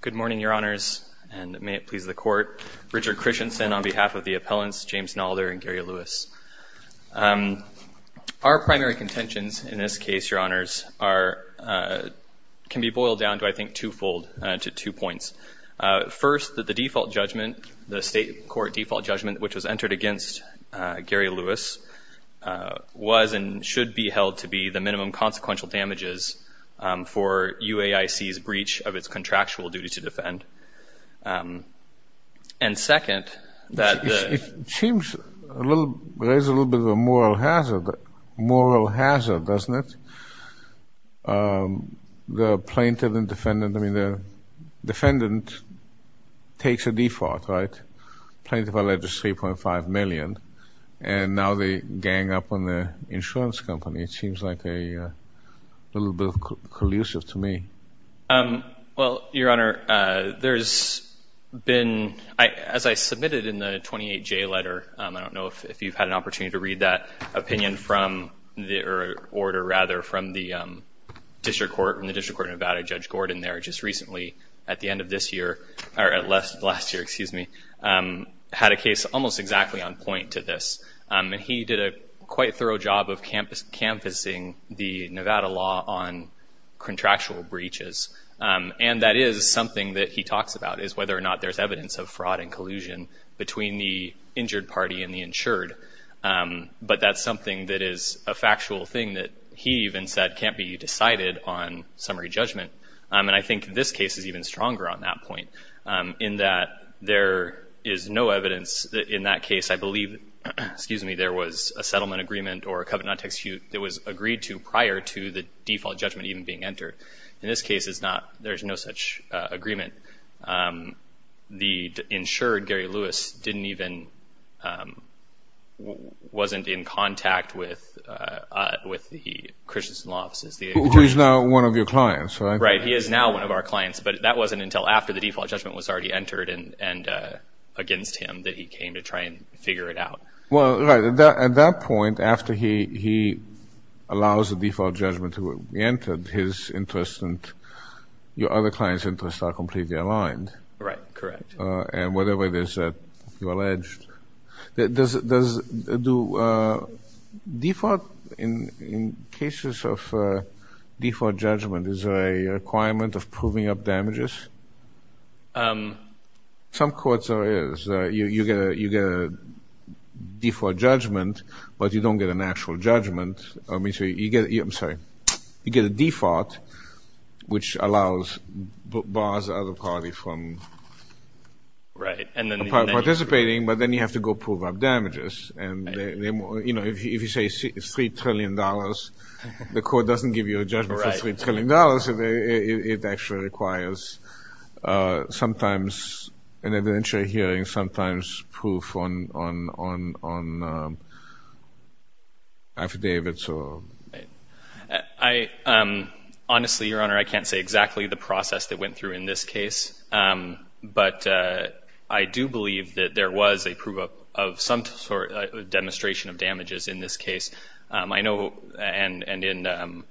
Good morning, Your Honors, and may it please the Court. Richard Christensen on behalf of the appellants, James Nalder and Gary Lewis. Our primary contentions in this case, Your Honors, can be boiled down to, I think, twofold, to two points. First, that the default judgment, the State Court default judgment, which was entered against Gary Lewis, was and should be held to be the minimum consequential damages for UAIC's breach of its contractual duty to defend. And second, that the... It seems a little, there's a little bit of a moral hazard, moral hazard, doesn't it? The plaintiff and defendant, I mean, the defendant takes a default, right? Plaintiff alleged 3.5 million, and now they gang up on the insurance company. It seems like a little bit collusive to me. Well, Your Honor, there's been, as I submitted in the 28J letter, I don't know if you've had an opportunity to read that opinion from the, or order rather, from the District Court, from the District Court of Nevada, Judge Gordon there just recently, at the end of this year, or last year, excuse me, had a case almost exactly on point to this. And he did a quite thorough job of canvassing the Nevada law on contractual breaches. And that is something that he talks about, is whether or not there's evidence of fraud and collusion between the injured party and the insured. But that's something that is a factual thing that he even said can't be decided on summary judgment. And I think this case is even stronger on that point, in that there is no evidence in that case, I believe, excuse me, there was a settlement agreement or a covenant to execute that was agreed to prior to the default judgment even being entered. In this case, it's not, there's no such agreement. The insured, Gary Lewis, didn't even, wasn't in contact with, with the clients. Right. He is now one of our clients, but that wasn't until after the default judgment was already entered and, and against him that he came to try and figure it out. Well, right. At that point, after he, he allows the default judgment to be entered, his interest and your other clients' interests are completely aligned. Right. Correct. And whatever it is that you get a, you get a default judgment, but you don't get an actual judgment. I mean, so you get, I'm sorry, you get a default, which allows bars other party from participating, but then you have to go prove up damages. And, you know, if you say it's $3 trillion, the court doesn't give you a $3 trillion. It actually requires sometimes an evidentiary hearing, sometimes proof on, on, on, on affidavits or. I, honestly, Your Honor, I can't say exactly the process that went through in this case. But I do believe that there was a proof of, of some sort of demonstration of damages in this case. I think there was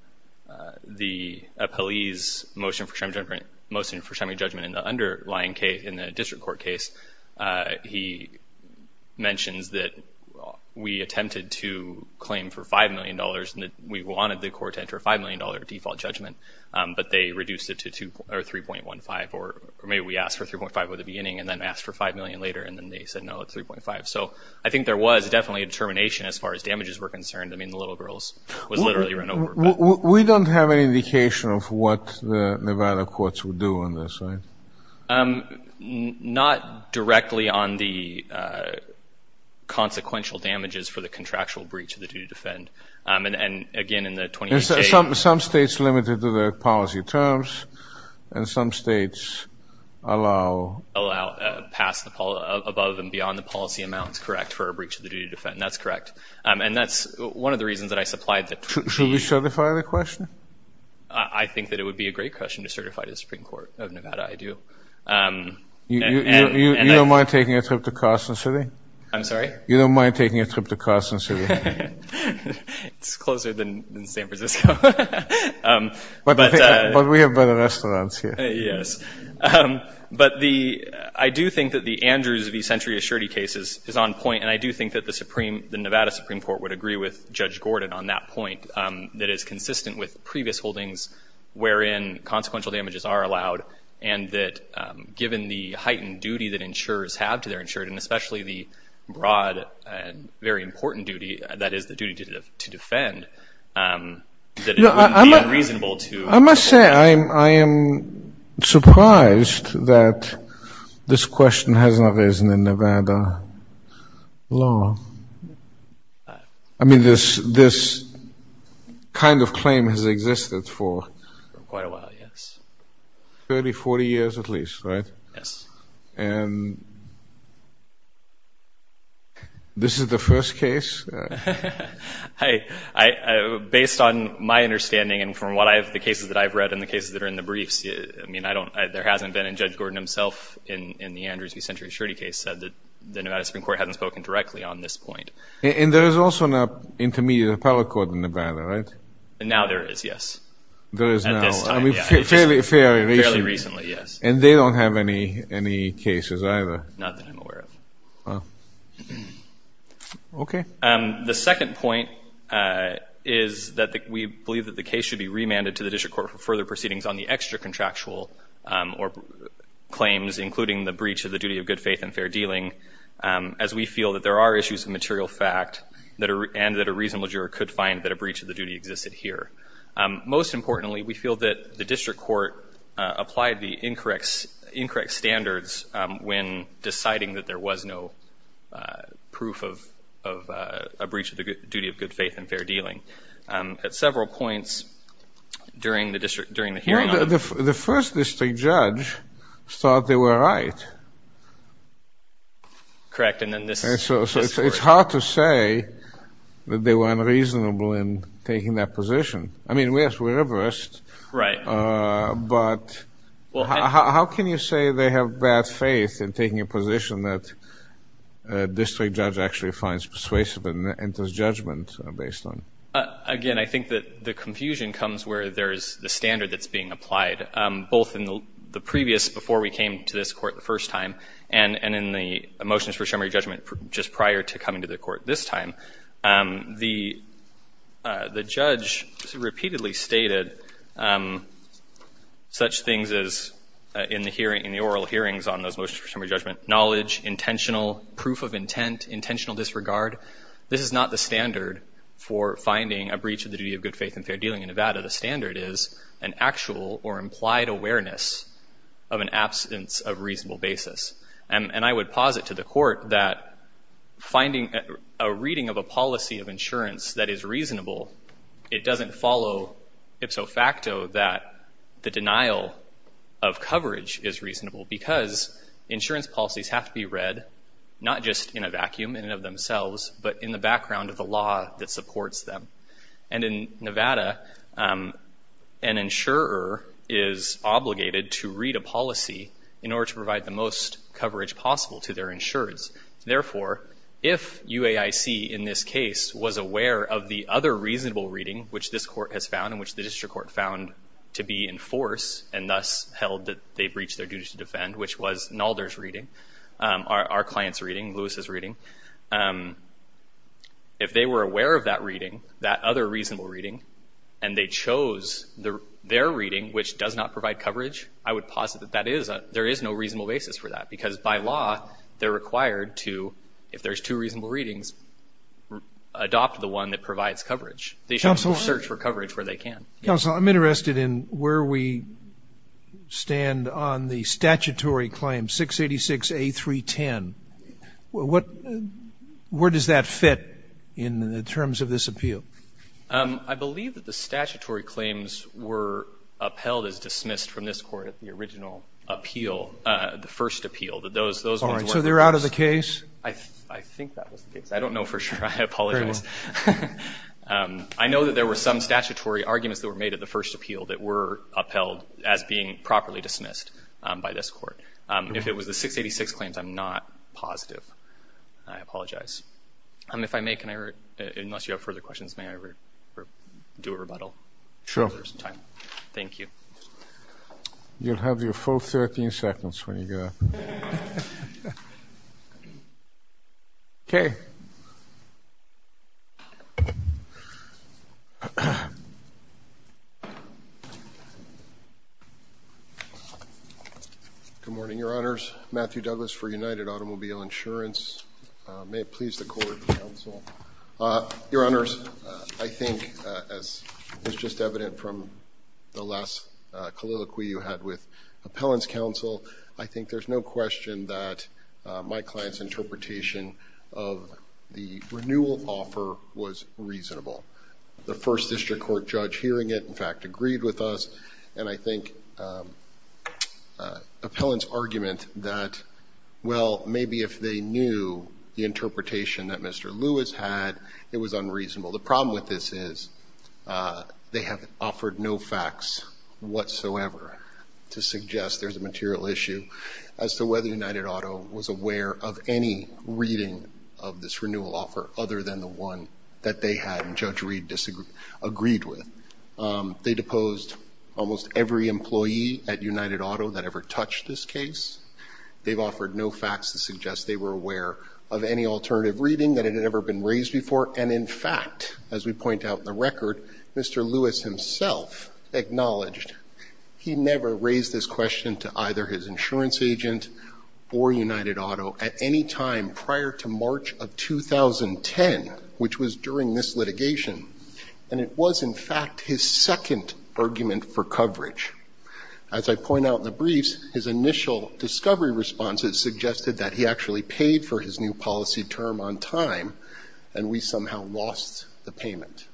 definitely a determination as far as damages were concerned. I mean, the Nevada courts would do on this, right? Not directly on the consequential damages for the contractual breach of the duty to defend. And again, in the 28 days. Some, some states limited to their policy terms and some states allow, allow, pass the above and beyond the policy amounts, correct, for a breach of the duty to defend. That's correct. And that's one of the reasons that I supplied the question. I think that it would be a great question to certify to the Supreme Court of Nevada. I do. You don't mind taking a trip to Carson City? I'm sorry? You don't mind taking a trip to Carson City? It's closer than San Francisco. But we have better restaurants here. Yes. But the, I do think that the Andrews v. Century Assurity case is, is on point. And I do think that the Supreme, the Nevada Supreme Court would agree with Judge Gordon on that point. That it's consistent with previous holdings wherein consequential damages are allowed. And that given the heightened duty that insurers have to their insured, and especially the broad and very important duty that is the duty to defend, that it would be unreasonable to... I must say, I'm, I am surprised that this question has not arisen in Nevada law. I mean, this, this kind of claim has existed for quite a while, yes. 30, 40 years at least, right? Yes. And this is the first case? I, based on my understanding and from what I have, the cases that I've read and the cases that are in the briefs, I mean, I don't, there hasn't been, and Judge Gordon himself in, in the Andrews v. Century Assurity case said that the Nevada Supreme Court hasn't spoken directly on this point. And there is also an intermediate appellate court in Nevada, right? Now there is, yes. There is now. At this time, yeah. I mean, fairly, fairly recently. Yes. And they don't have any, any cases either? Not that I'm aware of. Okay. The second point is that we believe that the case should be remanded to the district court for further proceedings on the extra contractual or claims, including the breach of the duty of good faith and fair dealing, as we feel that there are issues of material fact that are, and that a reasonable juror could find that a breach of the duty existed here. Most importantly, we feel that the district court applied the incorrect, incorrect standards when deciding that there was no proof of, of a breach of the duty of good faith and fair dealing. At several points during the district, during the first district judge thought they were right. Correct. And then this, and so it's hard to say that they were unreasonable in taking that position. I mean, yes, we reversed. Right. But how can you say they have bad faith in taking a position that a district judge actually finds persuasive and enters judgment based on? Again, I think that the confusion comes where there is the standard that's being applied, both in the previous, before we came to this court the first time, and, and in the motions for summary judgment just prior to coming to the court this time. The, the judge repeatedly stated such things as, in the hearing, in the oral hearings on those motions for summary judgment, knowledge, intentional proof of intent, intentional disregard. This is not the standard for finding a breach of the duty of good faith and fair dealing in Nevada. The standard is an actual or implied awareness of an absence of reasonable basis. And, and I would posit to the court that finding a reading of a policy of insurance that is reasonable, it doesn't follow ipso facto that the denial of coverage is reasonable because insurance policies have to be read, not just in a vacuum in and of themselves, but in the background of the law that supports them. And in Nevada, an insurer is obligated to read a policy in order to provide the most coverage possible to their insurers. Therefore, if UAIC, in this case, was aware of the other reasonable reading, which this court has found and which the district court found to be in force, and thus held that they breached their duty to defend, which was Nalder's reading, our client's reading. If they were aware of that reading, that other reasonable reading, and they chose their reading, which does not provide coverage, I would posit that there is no reasonable basis for that because by law, they're required to, if there's two reasonable readings, adopt the one that provides coverage. They should search for coverage where they can. Counsel, I'm interested in where we stand on the statutory claim, 686A310. What, where does that fit in the terms of this appeal? I believe that the statutory claims were upheld as dismissed from this court at the original appeal, the first appeal. But those, those weren't. So they're out of the case? I think that was the case. I don't know for sure. I apologize. I know that there were some claims that were made at the first appeal that were upheld as being properly dismissed by this court. If it was the 686 claims, I'm not positive. I apologize. And if I may, can I, unless you have further questions, may I do a rebuttal? Sure. Thank you. You'll have your full 13 seconds when you get up. Okay. Good morning, Your Honors. Matthew Douglas for United Automobile Insurance. May it please the court, counsel. Your Honors, I think, as was just evident from the last colloquy you had with Appellant's counsel, I think there's no question that my client's interpretation of the renewal offer was reasonable. The first district court judge hearing it, in fact, agreed with us. And I think Appellant's argument that, well, maybe if they knew the interpretation that Mr. Lewis had, it was unreasonable. The problem with this is they have offered no facts whatsoever to suggest there's a material issue as to whether United Auto was aware of any reading of this renewal offer, other than the one that they had and Judge Reed disagreed with. They deposed almost every employee at United Auto that ever touched this case. They've offered no facts to suggest they were aware of any alternative reading that had ever been raised before. And, in fact, as we point out in the record, Mr. Lewis himself acknowledged he never raised this question to either his insurance agent or United Auto. At any time prior to March of 2010, which was during this litigation, and it was, in fact, his second argument for coverage. As I point out in the briefs, his initial discovery response has suggested that he actually paid for his new policy term on time and we somehow lost the payment.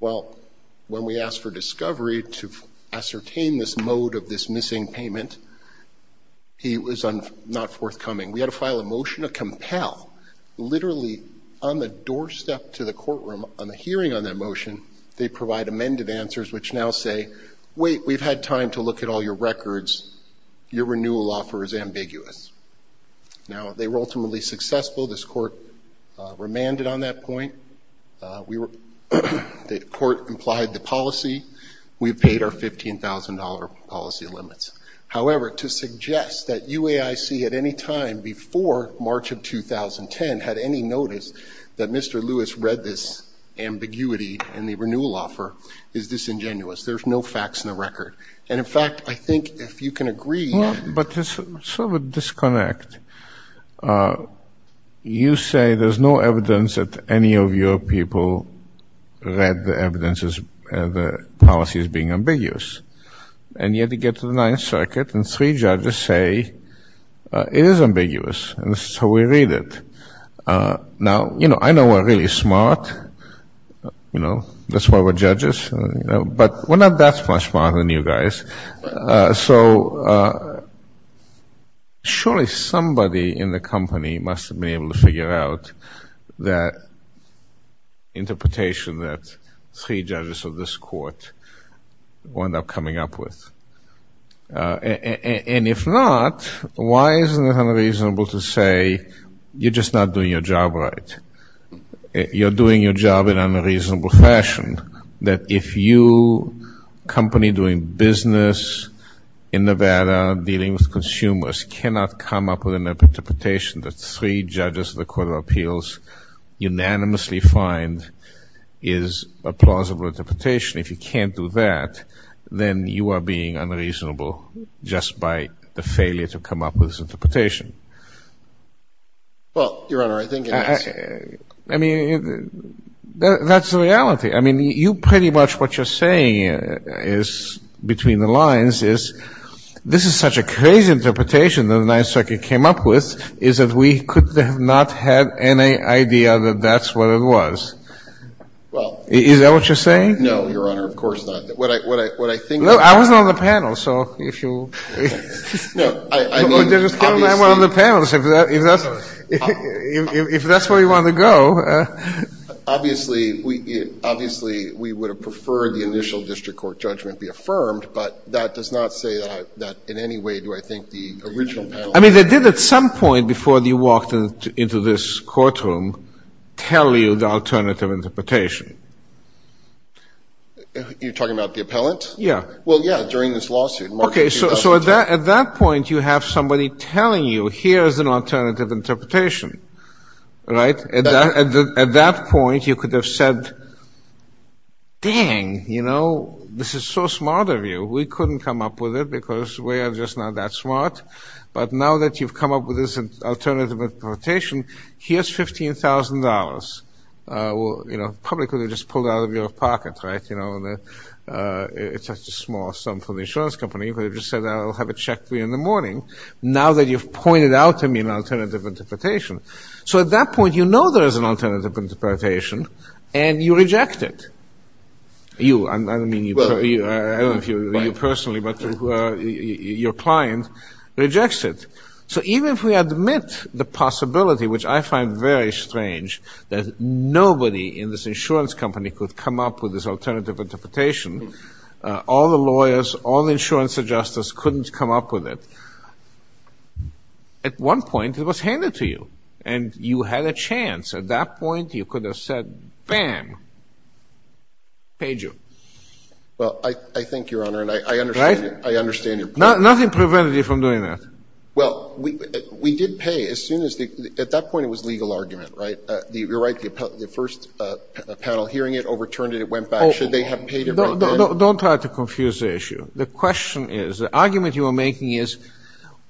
Well, when we asked for discovery to ascertain this mode of this missing payment, he was not forthcoming. We had to file a motion to compel, literally on the doorstep to the courtroom on the hearing on that motion, they provide amended answers which now say, wait, we've had time to look at all your records, your renewal offer is ambiguous. Now, they were ultimately successful. This court remanded on that point. We were, the court implied the policy. We paid our $15,000 policy limits. However, to suggest that UAIC at any time before March of 2010 had any notice that Mr. Lewis read this ambiguity in the renewal offer is disingenuous. There's no facts in the record. And, in fact, I think if you can agree. But there's sort of a disconnect. You say there's no evidence that any of your people read the evidence as the policy is being ambiguous. And yet to get to the Ninth Circuit and three judges say it is ambiguous. And so we read it. Now, you know, I know we're really smart. You know, that's why we're judges. But we're not that much smarter than you guys. So surely somebody in the company must have been able to figure out that interpretation that three judges of this court wound up coming up with. And if not, why isn't it unreasonable to say you're just not doing your job right? You're doing your job in an unreasonable fashion. That if you, a company doing business in Nevada dealing with consumers, cannot come up with an interpretation that three judges of the Court of Appeals unanimously find is a plausible interpretation. If you can't do that, then you are being unreasonable just by the failure to come up with this interpretation. Well, Your Honor, I think it is. I mean, you pretty much what you're saying is between the lines is this is such a crazy interpretation that the Ninth Circuit came up with is that we could have not had any idea that that's what it was. Well, is that what you're saying? No, Your Honor, of course not. What I think I was on the panel. So if you were on the panel, if that's where you want to go. Obviously, we obviously we would have preferred the initial district court judgment be affirmed. But that does not say that in any way do I think the original. I mean, they did at some point before you walked into this courtroom tell you the alternative interpretation. You're talking about the appellant? Yeah. Well, yeah, during this lawsuit. Okay. So at that point, you have somebody telling you here is an alternative interpretation, right? At that point, you could have said, dang, you know, this is so smart of you. We couldn't come up with it because we are just not that smart. But now that you've come up with this alternative interpretation, here's $15,000. You know, probably could have just pulled out of your pocket, right? You know, it's a small sum for the insurance company, but it just said, I'll have a check for you in the morning. Now that you've pointed out to me an alternative interpretation. So at that point, you know there is an alternative interpretation and you reject it. You, I don't mean you personally, but your client rejects it. So even if we admit the possibility, which I find very strange that nobody in this insurance company could come up with this alternative interpretation, all the lawyers, all the insurance adjusters couldn't come up with it. At one point, it was handed to you and you had a chance. At that point, you could have said, bam, paid you. Well, I think, Your Honor, and I understand, I understand your point. Nothing prevented you from doing that. Well, we did pay as soon as the, at that point, it was legal argument, right? You're right. The first panel hearing it overturned it, it went back. Should they have paid it right then? Don't try to confuse the issue. The question is, the argument you are making is,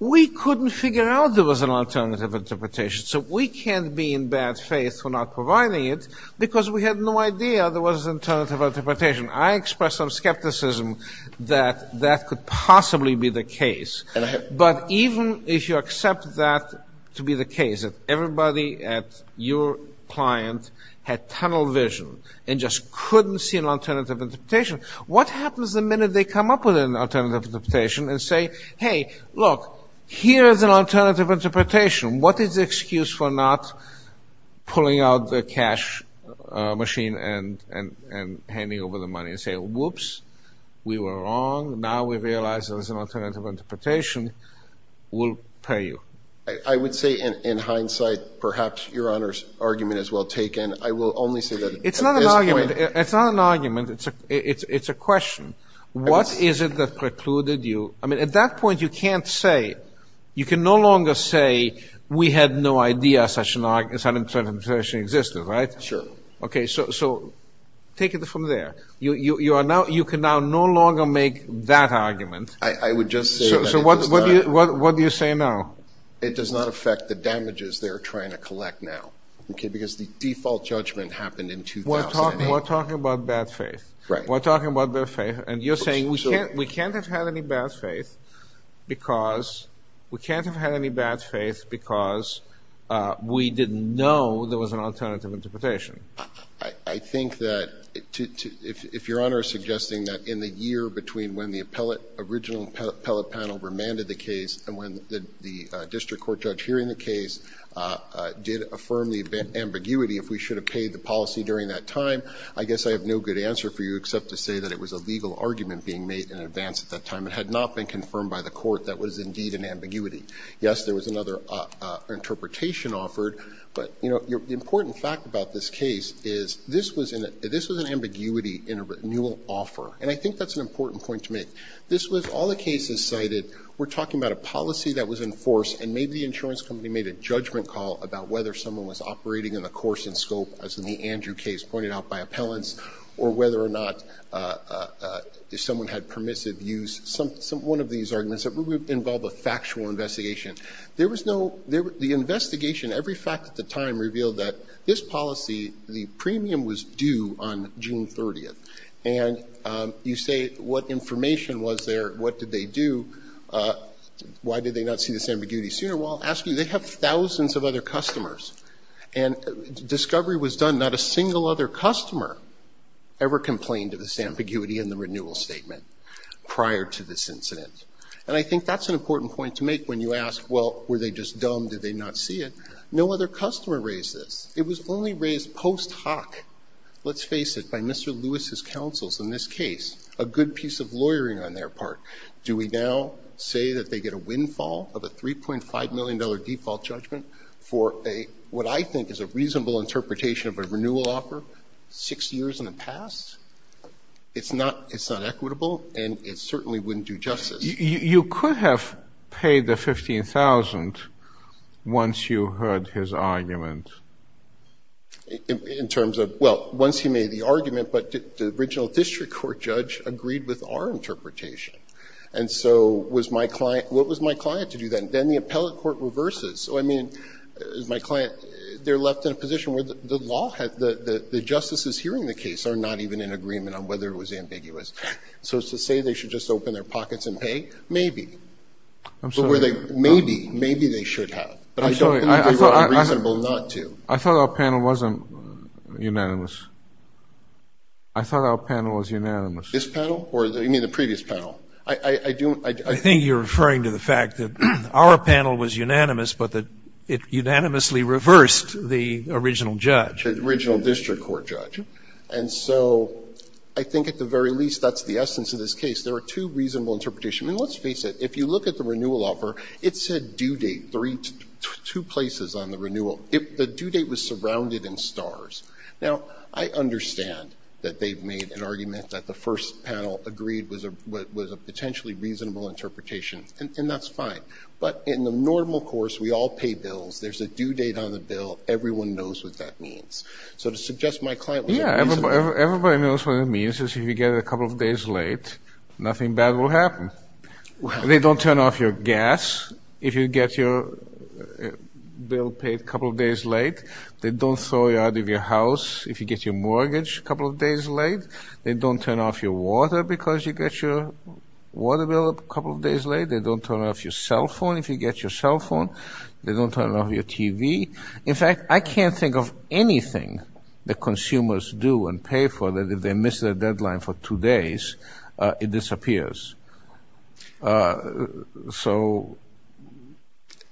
we couldn't figure out there was an alternative interpretation. So we can't be in bad faith for not providing it because we had no idea there was an alternative interpretation. I express some skepticism that that could possibly be the case. But even if you accept that to be the case, that everybody at your client had tunnel vision and just couldn't see an alternative interpretation, what happens the minute they come up with an alternative interpretation and say, hey, look, here is an alternative interpretation. What is the excuse for not pulling out the cash machine and handing over the money and say, whoops, we were wrong, now we realize there is an alternative interpretation, we'll pay you. I would say in hindsight, perhaps your Honor's argument is well taken. I will only say that at this point... It's not an argument. It's not an argument. It's a question. What is it that precluded you? I mean, at that point, you can't say, you can no longer say, we had no idea such an alternative interpretation existed, right? Sure. Okay, so take it from there. You can now no longer make that argument. I would just say that... So what do you say now? It does not affect the damages they're trying to collect now, because the default judgment happened in 2008. We're talking about bad faith. Right. We're talking about bad faith, and you're saying we can't have had any bad faith because we didn't know there was an alternative interpretation. I think that, if your Honor is suggesting that in the year between when the appellate, original appellate panel remanded the case, and when the district court judge hearing the case did affirm the ambiguity if we should have paid the policy during that time, I guess I have no good answer for you except to say that it was a legal argument being made in advance at that time. It had not been confirmed by the court that it was indeed an ambiguity. Yes, there was another interpretation offered. But the important fact about this case is this was an ambiguity in a renewal offer, and I think that's an important point to make. This was all the cases cited. We're talking about a policy that was enforced, and maybe the insurance company made a judgment call about whether someone was operating in the course and scope, as in the Andrew case pointed out by appellants, or whether or not someone had permissive use, one of these arguments that would involve a factual investigation. There was no, the investigation, every fact at the time revealed that this policy, the premium was due on June 30th, and you say what information was there, what did they do, why did they not see this ambiguity sooner? Well, I'll ask you, they have thousands of other customers, and discovery was done, not a single other customer ever complained of this ambiguity in the renewal statement prior to this incident. And I think that's an important point to make when you ask, well, were they just dumb, did they not see it? No other customer raised this. It was only raised post hoc. Let's face it, by Mr. Lewis' counsels in this case, a good piece of lawyering on their part. Do we now say that they get a windfall of a $3.5 million default judgment for what I think is a reasonable interpretation of a renewal offer, six years in the past? It's not equitable, and it certainly wouldn't do justice. You could have paid the $15,000 once you heard his argument. In terms of, well, once he made the argument, but the original district court judge agreed with our interpretation. And so, what was my client to do then? Then the appellate court reverses, so I mean, is my client, they're left in a position where the law, the justices hearing the case, are not even in agreement on whether it was ambiguous. So to say they should just open their pockets and pay, maybe. But were they, maybe, maybe they should have. But I don't think it would be reasonable not to. I thought our panel wasn't unanimous. I thought our panel was unanimous. This panel, or you mean the previous panel? I think you're referring to the fact that our panel was unanimous, but that it unanimously reversed the original judge. The original district court judge. And so, I think at the very least, that's the essence of this case. There are two reasonable interpretations, and let's face it. If you look at the renewal offer, it said due date, two places on the renewal. The due date was surrounded in stars. Now, I understand that they've made an argument that the first panel agreed was a potentially reasonable interpretation, and that's fine. But in the normal course, we all pay bills. There's a due date on the bill. Everyone knows what that means. So, to suggest my client was a reasonable- Yeah, everybody knows what it means, is if you get it a couple of days late, nothing bad will happen. They don't turn off your gas, if you get your bill paid a couple of days late. They don't throw you out of your house, if you get your mortgage a couple of days late. They don't turn off your water, because you get your water bill a couple of days late, they don't turn off your cell phone, if you get your cell phone. They don't turn off your TV. In fact, I can't think of anything that consumers do and pay for that if they miss their deadline for two days, it disappears. So,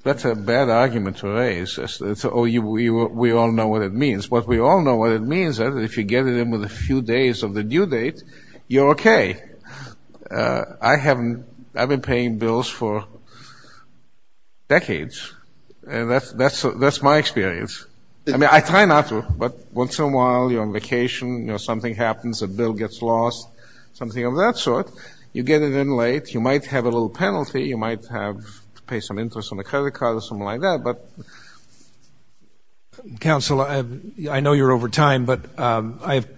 that's a bad argument to raise, so we all know what it means. But we all know what it means, that if you get it in with a few days of the due date, you're okay. I haven't, I've been paying bills for decades. And that's my experience. I mean, I try not to, but once in a while, you're on vacation, something happens, a bill gets lost, something of that sort. You get it in late, you might have a little penalty, you might have to pay some interest on a credit card or something like that, but. Council, I know you're over time, but I have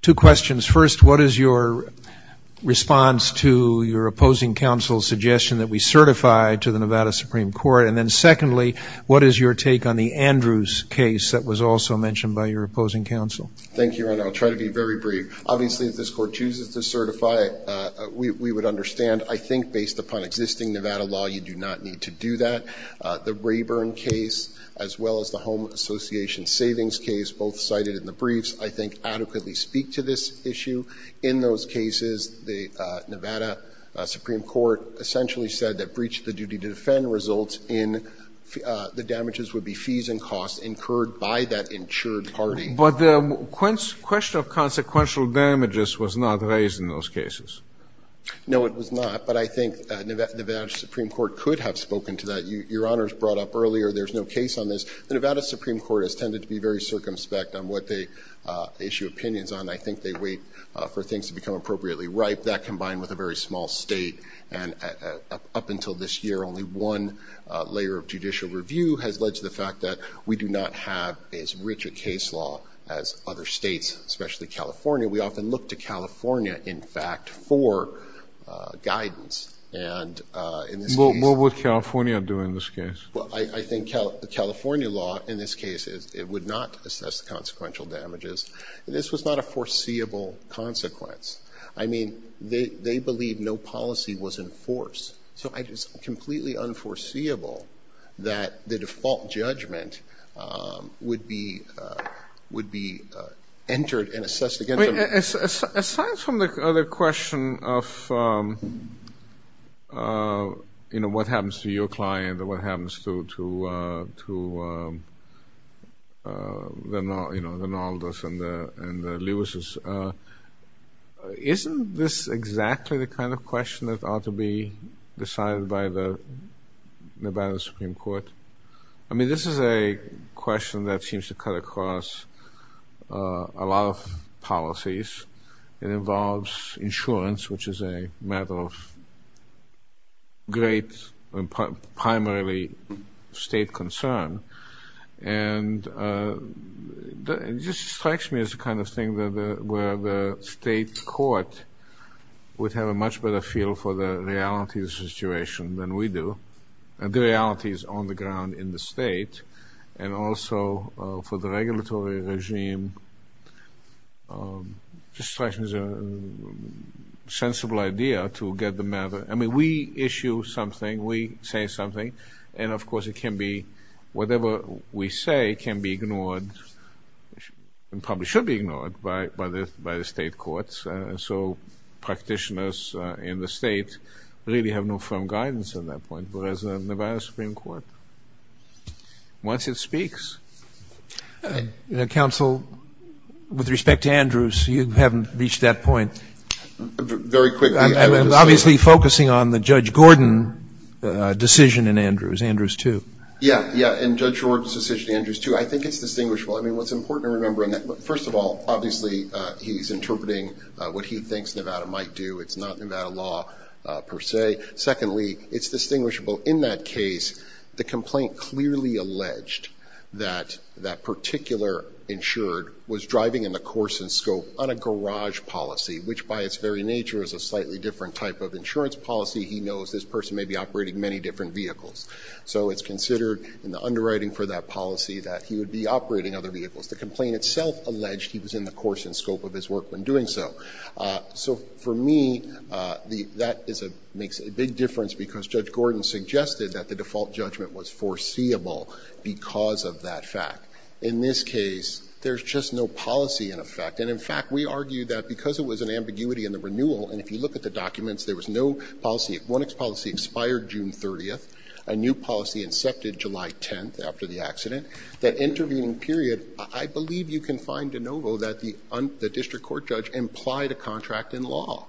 two questions. First, what is your response to your opposing council's suggestion that we certify to the Nevada Supreme Court, and then secondly, what is your take on the Andrews case that was also mentioned by your opposing council? Thank you, and I'll try to be very brief. Obviously, if this court chooses to certify, we would understand. I think based upon existing Nevada law, you do not need to do that. The Rayburn case, as well as the Home Association Savings case, both cited in the briefs, I think adequately speak to this issue. In those cases, the Nevada Supreme Court essentially said that breach of the duty to defend results in the damages would be fees and costs incurred by that insured party. But the question of consequential damages was not raised in those cases. No, it was not, but I think Nevada Supreme Court could have spoken to that. Your Honor's brought up earlier there's no case on this. The Nevada Supreme Court has tended to be very circumspect on what they issue opinions on. I think they wait for things to become appropriately ripe. That combined with a very small state, and up until this year, only one layer of judicial review has led to the fact that we do not have as rich a case law as other states, especially California. We often look to California, in fact, for guidance, and in this case- What would California do in this case? Well, I think California law in this case, it would not assess the consequential damages. This was not a foreseeable consequence. I mean, they believe no policy was enforced, so it is completely unforeseeable that the default judgment would be entered and assessed against them. Aside from the other question of what happens to your client or what happens to the Naldas and the Lewises, isn't this exactly the kind of question that ought to be decided by the Nevada Supreme Court? I mean, this is a question that seems to cut across a lot of policies. It involves insurance, which is a matter of great, primarily, state concern. And it just strikes me as the kind of thing where the state court would have a much better feel for the realities of the situation than we do, and the realities on the ground in the state, and also for the regulatory regime. Just strikes me as a sensible idea to get the matter- I mean, we issue something, we say something, and of course, it can be- whatever we say can be ignored and probably should be ignored by the state courts. So, practitioners in the state really have no firm guidance at that point, whereas the Nevada Supreme Court, once it speaks- You know, counsel, with respect to Andrews, you haven't reached that point. Very quickly- I'm obviously focusing on the Judge Gordon decision in Andrews, Andrews 2. Yeah, yeah, and Judge George's decision in Andrews 2. I think it's distinguishable. I mean, what's important to remember in that- first of all, obviously, he's interpreting what he thinks Nevada might do. It's not Nevada law, per se. Secondly, it's distinguishable in that case, the complaint clearly alleged that that particular insured was driving in the course and scope on a garage policy, which by its very nature is a slightly different type of insurance policy. He knows this person may be operating many different vehicles. So, it's considered in the underwriting for that policy that he would be operating other vehicles. The complaint itself alleged he was in the course and scope of his work when doing so. So, for me, that makes a big difference because Judge Gordon suggested that the default judgment was foreseeable because of that fact. In this case, there's just no policy in effect. And in fact, we argue that because it was an ambiguity in the renewal, and if you look at the documents, there was no policy. One policy expired June 30th. A new policy incepted July 10th after the accident. That intervening period, I believe you can find de novo that the district court judge implied a contract in law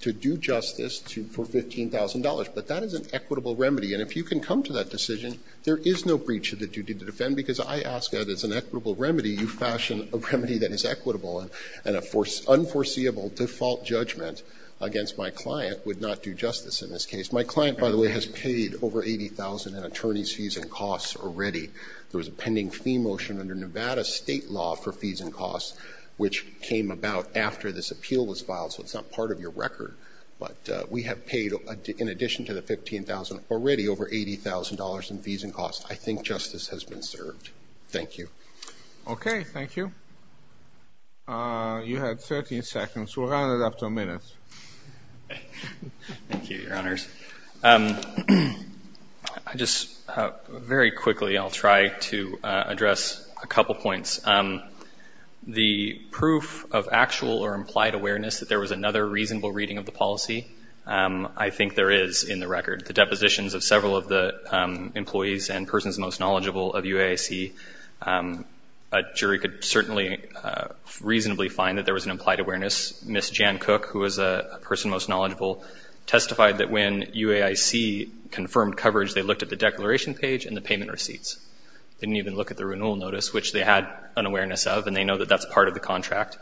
to do justice for $15,000. But that is an equitable remedy. And if you can come to that decision, there is no breach of the duty to defend because I ask that as an equitable remedy, you fashion a remedy that is equitable. And an unforeseeable default judgment against my client would not do justice in this case. My client, by the way, has paid over $80,000 in attorney's fees and costs already. There was a pending fee motion under Nevada state law for fees and costs, which came about after this appeal was filed, so it's not part of your record. But we have paid, in addition to the $15,000, already over $80,000 in fees and costs. I think justice has been served. Thank you. Okay. Thank you. You had 13 seconds. We'll round it up to a minute. Thank you, Your Honors. I just, very quickly, I'll try to address a couple points. The proof of actual or implied awareness that there was another reasonable reading of the policy, I think there is in the record. The depositions of several of the employees and persons most knowledgeable of UAIC, a jury could certainly reasonably find that there was an implied awareness. Ms. Jan Cook, who is a person most knowledgeable, testified that when UAIC confirmed coverage, they looked at the declaration page and the payment receipts. Didn't even look at the renewal notice, which they had an awareness of, and they know that that's part of the contract.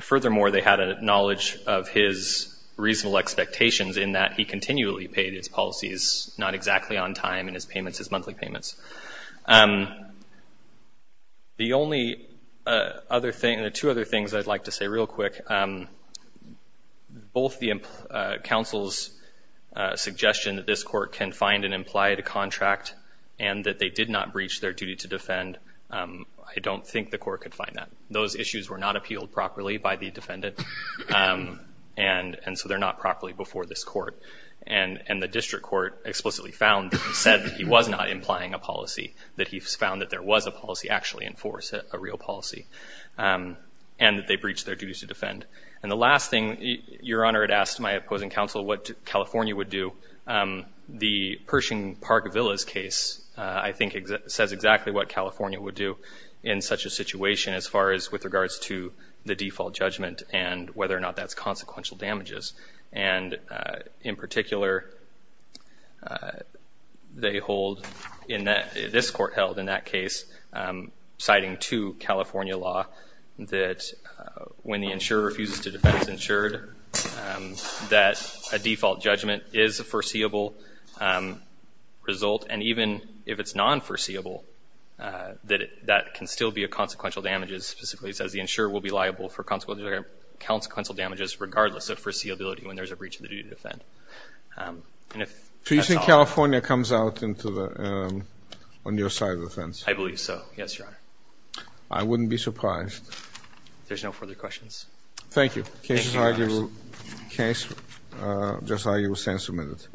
Furthermore, they had a knowledge of his reasonable expectations in that he continually paid his policies not exactly on time in his payments, his monthly payments. The only other thing, the two other things I'd like to say real quick, both the counsel's suggestion that this court can find an implied contract and that they did not breach their duty to defend, I don't think the court could find that. Those issues were not appealed properly by the defendant, and so they're not properly before this court. And the district court explicitly said that he was not implying a policy, that he found that there was a policy actually in force, a real policy, and that they breached their duties to defend. And the last thing, Your Honor had asked my opposing counsel what California would do. The Pershing Park Villas case, I think, says exactly what California would do in such a situation as far as with regards to the default judgment and whether or not that's consequential damages. And in particular, they hold, this court held in that case, citing two California law, that when the insurer refuses to defend the insured, that a default judgment is a foreseeable result. And even if it's non-foreseeable, that can still be a consequential damages. Specifically, it says the insurer will be liable for consequential damages regardless of foreseeability when there's a breach of the duty to defend. And if that's all... So you think California comes out into the, on your side of the fence? I believe so, yes, Your Honor. I wouldn't be surprised. There's no further questions. Thank you. Thank you, Your Honor. Can I just argue a sense a minute?